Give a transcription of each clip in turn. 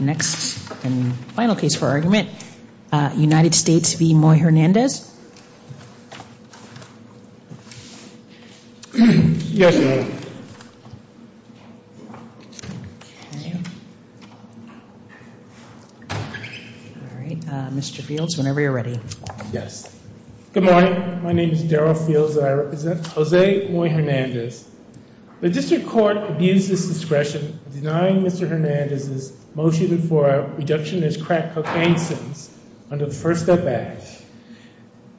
Next and final case for argument, United States v. Moy Hernandez. Yes, ma'am. Okay. All right, Mr. Fields, whenever you're ready. Yes. Good morning. My name is Daryl Fields and I represent Jose Moy Hernandez. The district court abused its discretion in denying Mr. Hernandez's motion for a reductionist crack cocaine sentence under the First Step Act.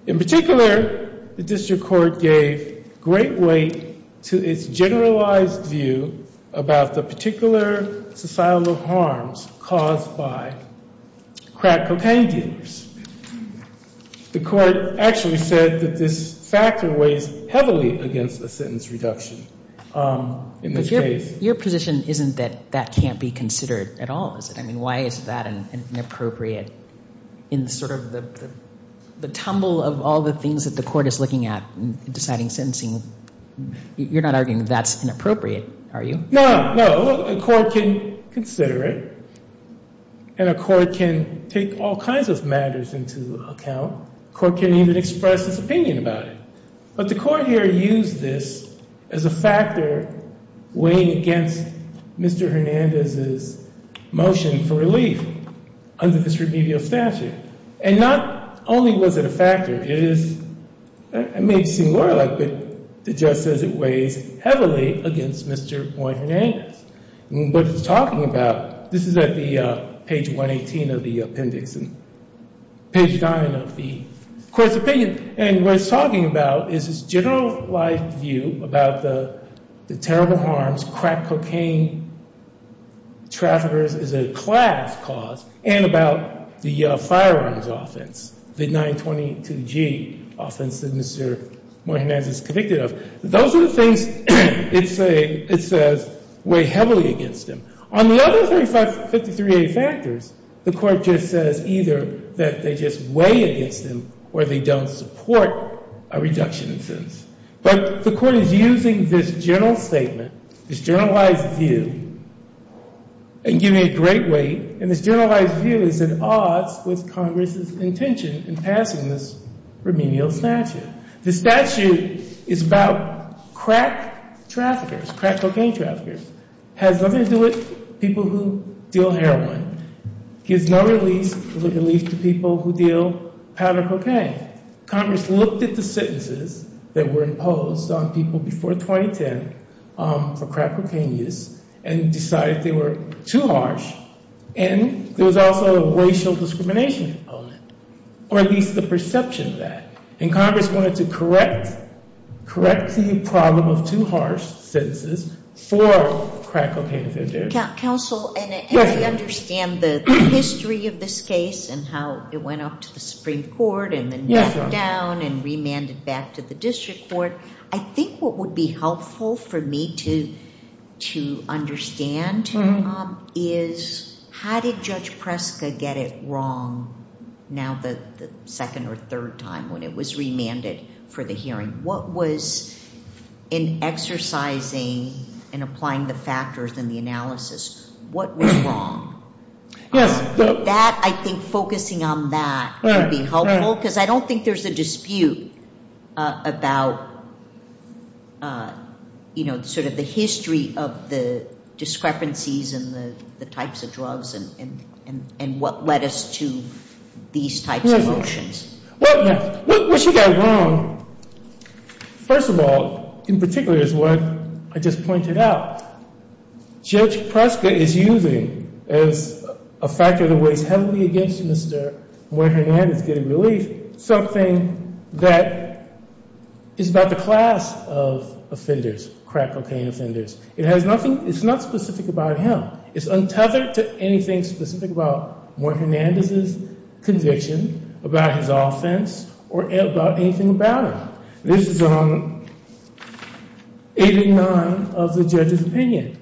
In particular, the district court gave great weight to its generalized view about the particular societal harms caused by crack cocaine dealers. The court actually said that this factor weighs heavily against a sentence reduction in this case. Your position isn't that that can't be considered at all, is it? I mean, why is that inappropriate in sort of the tumble of all the things that the court is looking at in deciding sentencing? You're not arguing that that's inappropriate, are you? No, no. Well, a court can consider it and a court can take all kinds of matters into account. A court can even express its opinion about it. But the court here used this as a factor weighing against Mr. Hernandez's motion for relief under this remedial statute. And not only was it a factor, it is, it may seem more like, but the judge says it weighs heavily against Mr. Moy Hernandez. What he's talking about, this is at the page 118 of the appendix, page 9 of the court's opinion. And what he's talking about is his generalized view about the terrible harms crack cocaine traffickers is a class cause, and about the firearms offense, the 922G offense that Mr. Moy Hernandez is convicted of. Those are the things it says weigh heavily against him. On the other 53A factors, the court just says either that they just weigh against him or they don't support a reduction in sentence. But the court is using this general statement, this generalized view, and giving it great weight. And this generalized view is at odds with Congress's intention in passing this remedial statute. The statute is about crack traffickers, crack cocaine traffickers. It has nothing to do with people who deal heroin. It gives no relief to people who deal powder cocaine. Congress looked at the sentences that were imposed on people before 2010 for crack cocaine use and decided they were too harsh. And there was also a racial discrimination component, or at least the perception of that. And Congress wanted to correct the problem of too harsh sentences for crack cocaine offenders. Counsel, as I understand the history of this case and how it went up to the Supreme Court and then back down and remanded back to the district court, I think what would be helpful for me to understand is how did Judge Preska get it wrong now the second or third time when it was remanded for the hearing? What was in exercising and applying the factors in the analysis, what was wrong? That, I think focusing on that would be helpful because I don't think there's a dispute about sort of the history of the discrepancies and the types of drugs and what led us to these types of motions. What she got wrong, first of all, in particular is what I just pointed out. Judge Preska is using as a factor that weighs heavily against Mr. Muir-Hernandez getting relief something that is about the class of offenders, crack cocaine offenders. It's not specific about him. It's untethered to anything specific about Muir-Hernandez's conviction, about his offense, or about anything about him. This is 89 of the judge's opinion.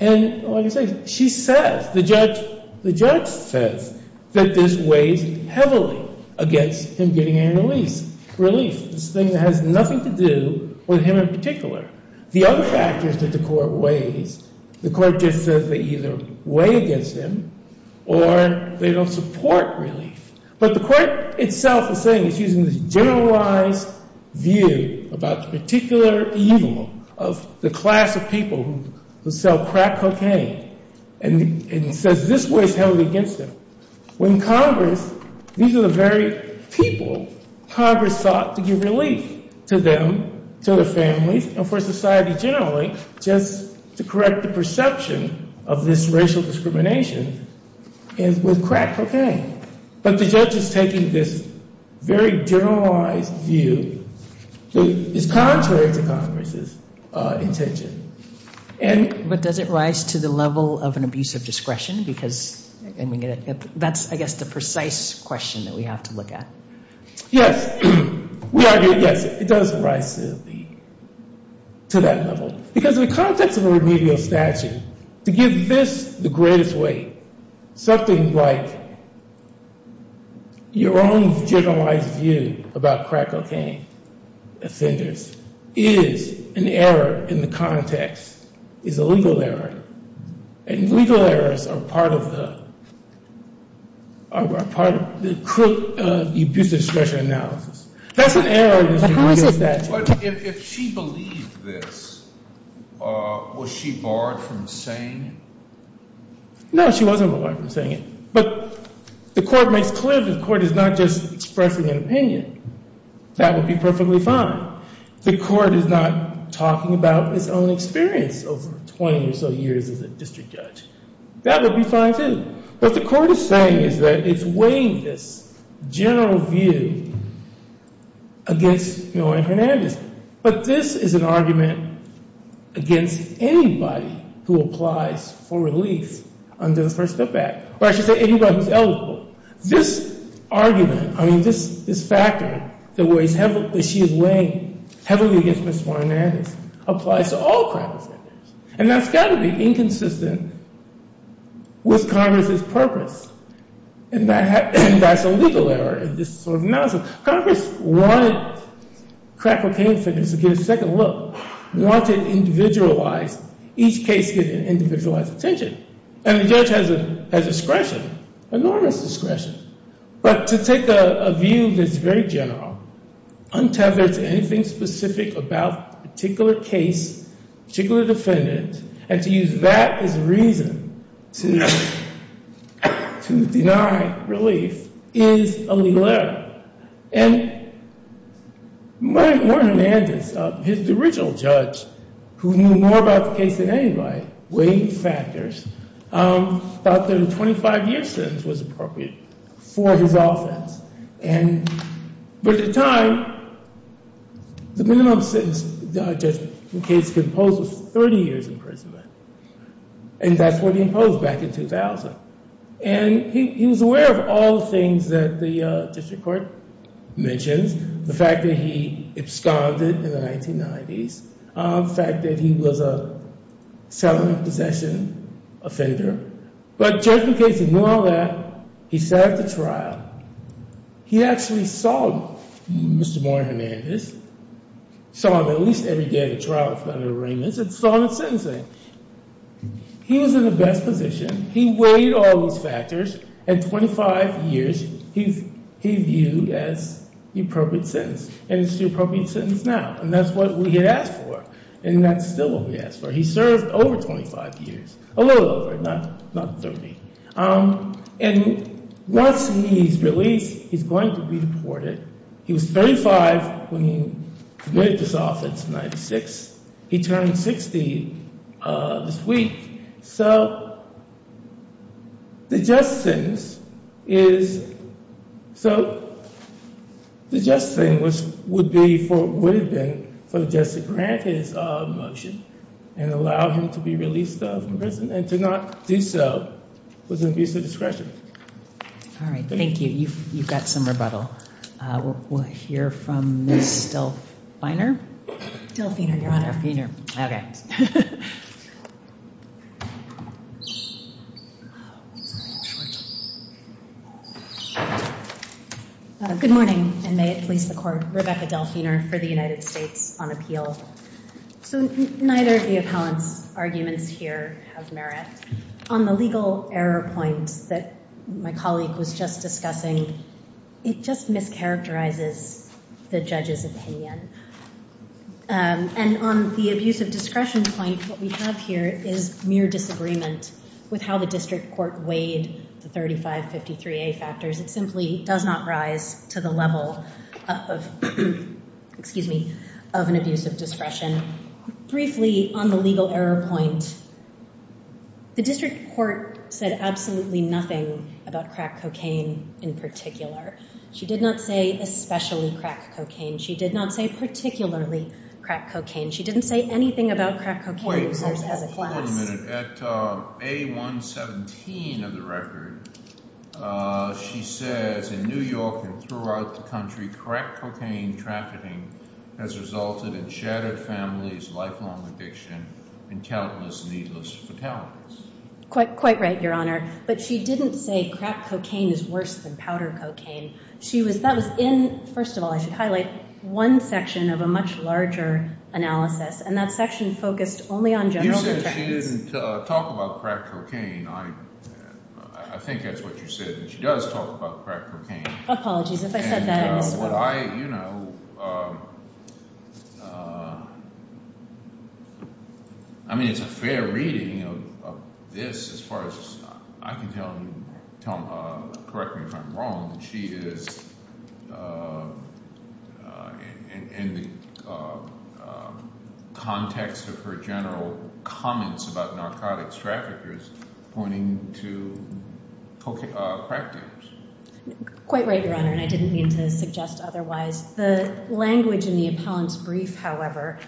And like I say, she says, the judge says that this weighs heavily against him getting any relief. This thing that has nothing to do with him in particular. The other factors that the court weighs, the court just says they either weigh against him or they don't support relief. But the court itself is saying it's using this generalized view about the particular evil of the class of people who sell crack cocaine and says this weighs heavily against them. When Congress, these are the very people Congress sought to give relief to them, to their families, and for society generally, just to correct the perception of this racial discrimination with crack cocaine. But the judge is taking this very generalized view that is contrary to Congress's intention. But does it rise to the level of an abuse of discretion? Because that's, I guess, the precise question that we have to look at. Yes. It does rise to that level. Because in the context of a remedial statute, to give this the greatest weight, something like your own generalized view about crack cocaine offenders is an error in the context, is a legal error. And legal errors are part of the abuse of discretion analysis. That's an error in the remedial statute. But if she believed this, was she barred from saying it? No, she wasn't barred from saying it. But the court makes clear that the court is not just expressing an opinion. That would be perfectly fine. The court is not talking about its own experience over 20 or so years as a district judge. That would be fine, too. But what the court is saying is that it's weighing this general view against Marilyn Hernandez. But this is an argument against anybody who applies for release under the First Step Act. Or I should say, anybody who's eligible. This argument, I mean, this factor that she is weighing heavily against Ms. Marilyn Hernandez applies to all crack offenders. And that's got to be inconsistent with Congress's purpose. And that's a legal error in this sort of analysis. Congress wanted crack cocaine offenders to get a second look, wanted individualized, each case getting individualized attention. And the judge has discretion, enormous discretion. But to take a view that's very general, untethered to anything specific about a particular case, particular defendant, and to use that as a reason to deny relief is a legal error. And Marilyn Hernandez, his original judge, who knew more about the case than anybody, weighed factors, thought that a 25-year sentence was appropriate for his offense. And for the time, the minimum sentence the judge in the case could impose was 30 years imprisonment. And that's what he imposed back in 2000. And he was aware of all the things that the district court mentions, the fact that he absconded in the 1990s, the fact that he was a settlement possession offender. But the judge, in case he knew all that, he set up the trial. He actually saw Mr. Marilyn Hernandez, saw him at least every day at the trial with federal arraignments, and saw him at sentencing. He was in the best position. He weighed all these factors. And 25 years, he viewed as the appropriate sentence. And it's the appropriate sentence now. And that's what we had asked for. And that's still what we asked for. He served over 25 years, a little over, not 30. And once he's released, he's going to be deported. He was 35 when he committed this offense in 1996. He turned 60 this week. So the just thing would have been for the judge to grant his motion and allow him to be released from prison. And to not do so was an abuse of discretion. All right. Thank you. You've got some rebuttal. We'll hear from Ms. Delfiner. Delfiner, Your Honor. Delfiner. Okay. Good morning, and may it please the Court. Rebecca Delfiner for the United States on Appeal. So neither of the appellant's arguments here have merit. On the legal error point that my colleague was just discussing, it just mischaracterizes the judge's opinion. And on the abuse of discretion point, what we have here is mere disagreement with how the district court weighed the 3553A factors. It simply does not rise to the level of an abuse of discretion. Briefly, on the legal error point, the district court said absolutely nothing about crack cocaine in particular. She did not say especially crack cocaine. She did not say particularly crack cocaine. She didn't say anything about crack cocaine users as a class. Wait a minute. At A117 of the record, she says in New York and throughout the country, crack cocaine trafficking has resulted in shattered families, lifelong addiction, and countless needless fatalities. Quite right, Your Honor. But she didn't say crack cocaine is worse than powder cocaine. First of all, I should highlight one section of a much larger analysis, and that section focused only on general detractors. You said she didn't talk about crack cocaine. I think that's what you said, and she does talk about crack cocaine. Apologies. If I said that, I'm sorry. I mean, it's a fair reading of this as far as I can tell. Correct me if I'm wrong. She is, in the context of her general comments about narcotics traffickers, pointing to crack dealers. Quite right, Your Honor, and I didn't mean to suggest otherwise. The language in the appellant's brief, however,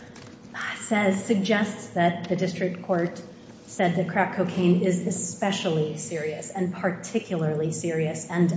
suggests that the district court said that crack cocaine is especially serious and particularly serious, and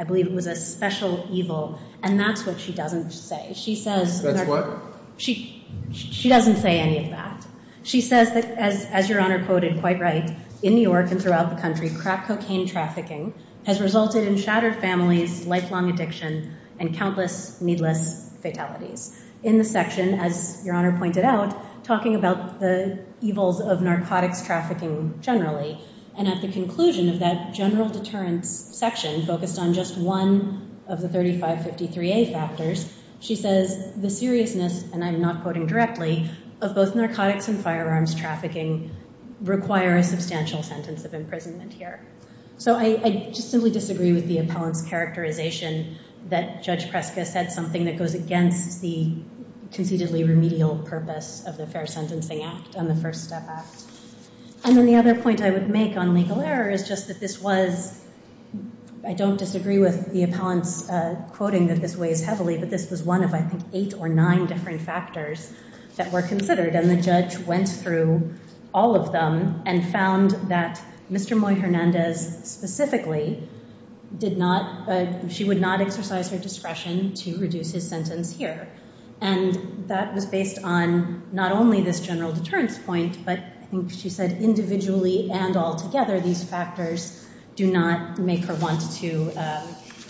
I believe it was a special evil, and that's what she doesn't say. That's what? She doesn't say any of that. She says that, as Your Honor quoted quite right, in New York and throughout the country, crack cocaine trafficking has resulted in shattered families, lifelong addiction, and countless needless fatalities. In the section, as Your Honor pointed out, talking about the evils of narcotics trafficking generally, and at the conclusion of that general deterrence section focused on just one of the 3553A factors, she says the seriousness, and I'm not quoting directly, of both narcotics and firearms trafficking require a substantial sentence of imprisonment here. So I just simply disagree with the appellant's characterization that Judge Preska said something that goes against the conceitedly remedial purpose of the Fair Sentencing Act and the First Step Act. And then the other point I would make on legal error is just that this was, I don't disagree with the appellant's quoting that this weighs heavily, but this was one of, I think, eight or nine different factors that were considered, and the judge went through all of them and found that Mr. Moy Hernandez specifically did not, she would not exercise her discretion to reduce his sentence here, and that was based on not only this general deterrence point, but I think she said individually and altogether these factors do not make her want to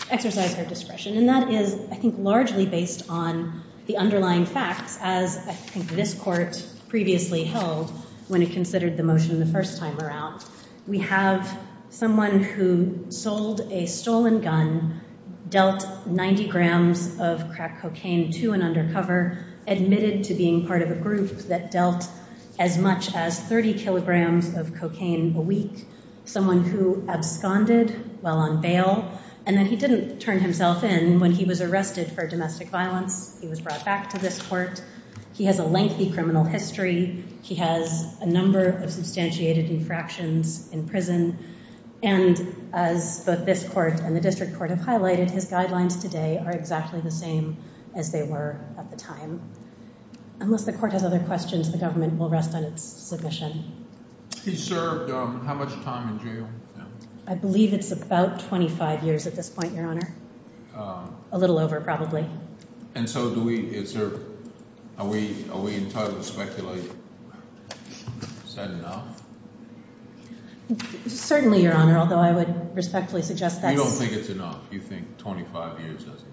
exercise her discretion. And that is, I think, largely based on the underlying facts, as I think this court previously held when it considered the motion the first time around. We have someone who sold a stolen gun, dealt 90 grams of crack cocaine to an undercover, admitted to being part of a group that dealt as much as 30 kilograms of cocaine a week, someone who absconded while on bail, and then he didn't turn himself in when he was arrested for domestic violence, he was brought back to this court. He has a lengthy criminal history. He has a number of substantiated infractions in prison, and as both this court and the district court have highlighted, his guidelines today are exactly the same as they were at the time. Unless the court has other questions, the government will rest on its submission. He served how much time in jail? I believe it's about 25 years at this point, Your Honor. A little over, probably. And so do we – is there – are we entitled to speculate? Is that enough? Certainly, Your Honor, although I would respectfully suggest that's – You don't think it's enough? You think 25 years isn't enough?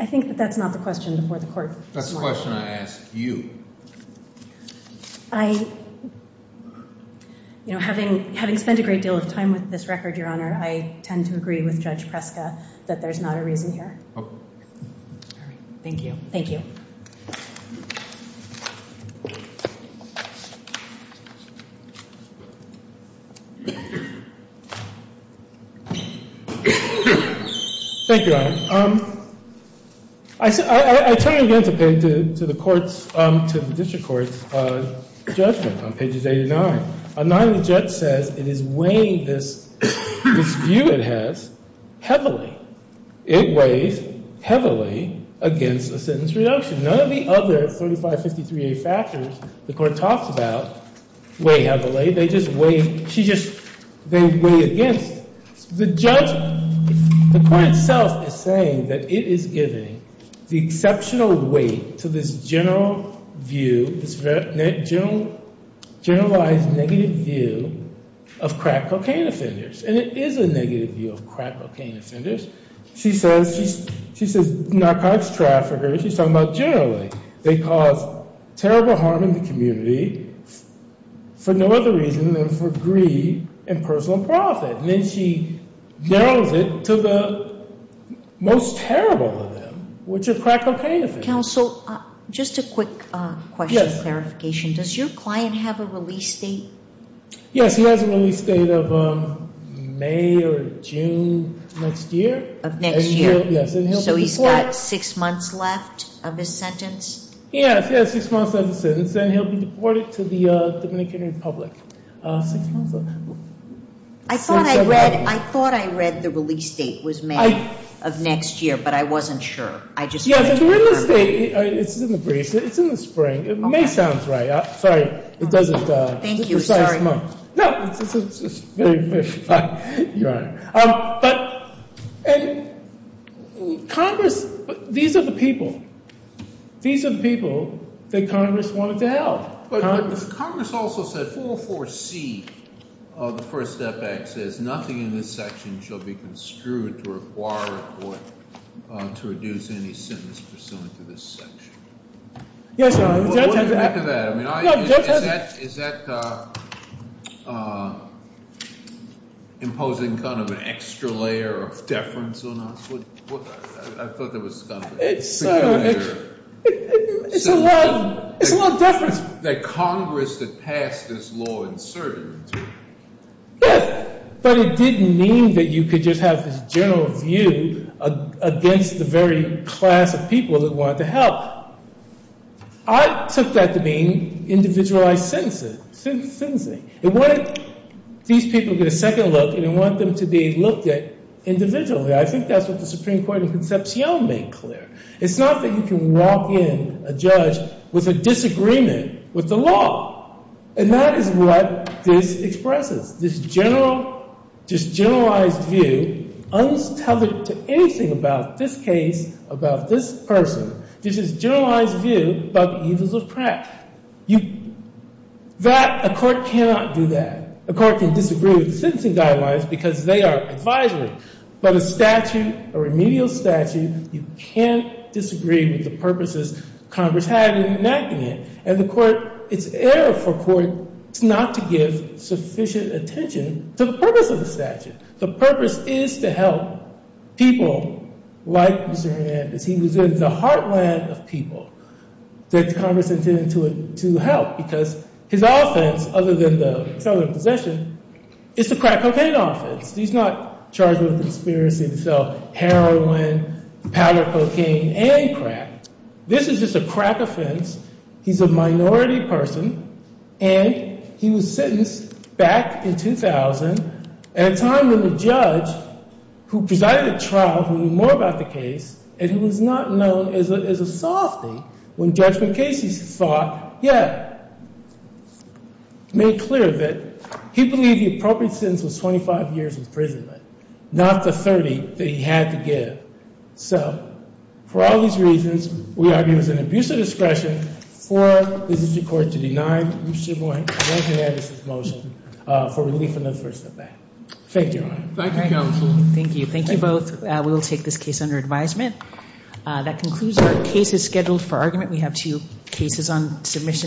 I think that that's not the question before the court. That's the question I ask you. I – you know, having spent a great deal of time with this record, Your Honor, I tend to agree with Judge Preska that there's not a reason here. All right. Thank you. Thank you. Thank you, Your Honor. I turn again to the court's – to the district court's judgment on pages 89. Page 89, the judge says it is weighing this view it has heavily. It weighs heavily against a sentence reduction. None of the other 3553A factors the court talks about weigh heavily. They just weigh – she just – they weigh against. The judge – the court itself is saying that it is giving the exceptional weight to this general view, this generalized negative view of crack cocaine offenders. And it is a negative view of crack cocaine offenders. She says narcotics traffickers – she's talking about generally. They cause terrible harm in the community for no other reason than for greed and personal profit. And then she narrows it to the most terrible of them, which are crack cocaine offenders. Counsel, just a quick question of clarification. Does your client have a release date? Yes, he has a release date of May or June next year. Of next year. And he'll – yes. So he's got six months left of his sentence? Yes, he has six months left of his sentence, and he'll be deported to the Dominican Republic. Six months left. I thought I read – I thought I read the release date was May of next year, but I wasn't sure. I just – Yes, the release date – it's in the briefs. It's in the spring. It may sound right. Sorry. It doesn't – Thank you. Sorry. No, it's very, very fine. You're right. But – and Congress – these are the people. These are the people that Congress wanted to help. But Congress also said 404C of the First Step Act says nothing in this section shall be construed to require or to reduce any sentence pursuant to this section. Yes, Your Honor. What do you make of that? I mean, is that imposing kind of an extra layer of deference on us? I thought that was kind of a peculiar measure. It's a little – it's a little deference. That Congress had passed this law in certain terms. Yes, but it didn't mean that you could just have this general view against the very class of people that wanted to help. I took that to mean individualized sentencing. It wanted these people to get a second look, and it wanted them to be looked at individually. I think that's what the Supreme Court in Concepcion made clear. It's not that you can walk in a judge with a disagreement with the law. And that is what this expresses, this general – this generalized view, untethered to anything about this case, about this person. This is generalized view about the evils of crack. You – that – a court cannot do that. A court can disagree with the sentencing guidelines because they are advisory. But a statute, a remedial statute, you can't disagree with the purposes Congress had in enacting it. And the court – it's error for a court not to give sufficient attention to the purpose of the statute. The purpose is to help people like Mr. Hernandez. He was in the heartland of people that Congress intended to help because his offense, other than the felony possession, is the crack cocaine offense. He's not charged with a conspiracy to sell heroin, powder cocaine, and crack. This is just a crack offense. He's a minority person. And he was sentenced back in 2000 at a time when the judge who presided at trial, who knew more about the case, and he was not known as a softy when Judge Macias thought, yeah, made clear that he believed the appropriate sentence was 25 years imprisonment, not the 30 that he had to give. So for all these reasons, we argue it was an abuse of discretion for the district court to deny Mr. Boynton Hernandez's motion for relief in the first event. Thank you, Your Honor. Thank you, counsel. Thank you. Thank you both. We will take this case under advisement. That concludes our cases scheduled for argument. We have two cases on submission.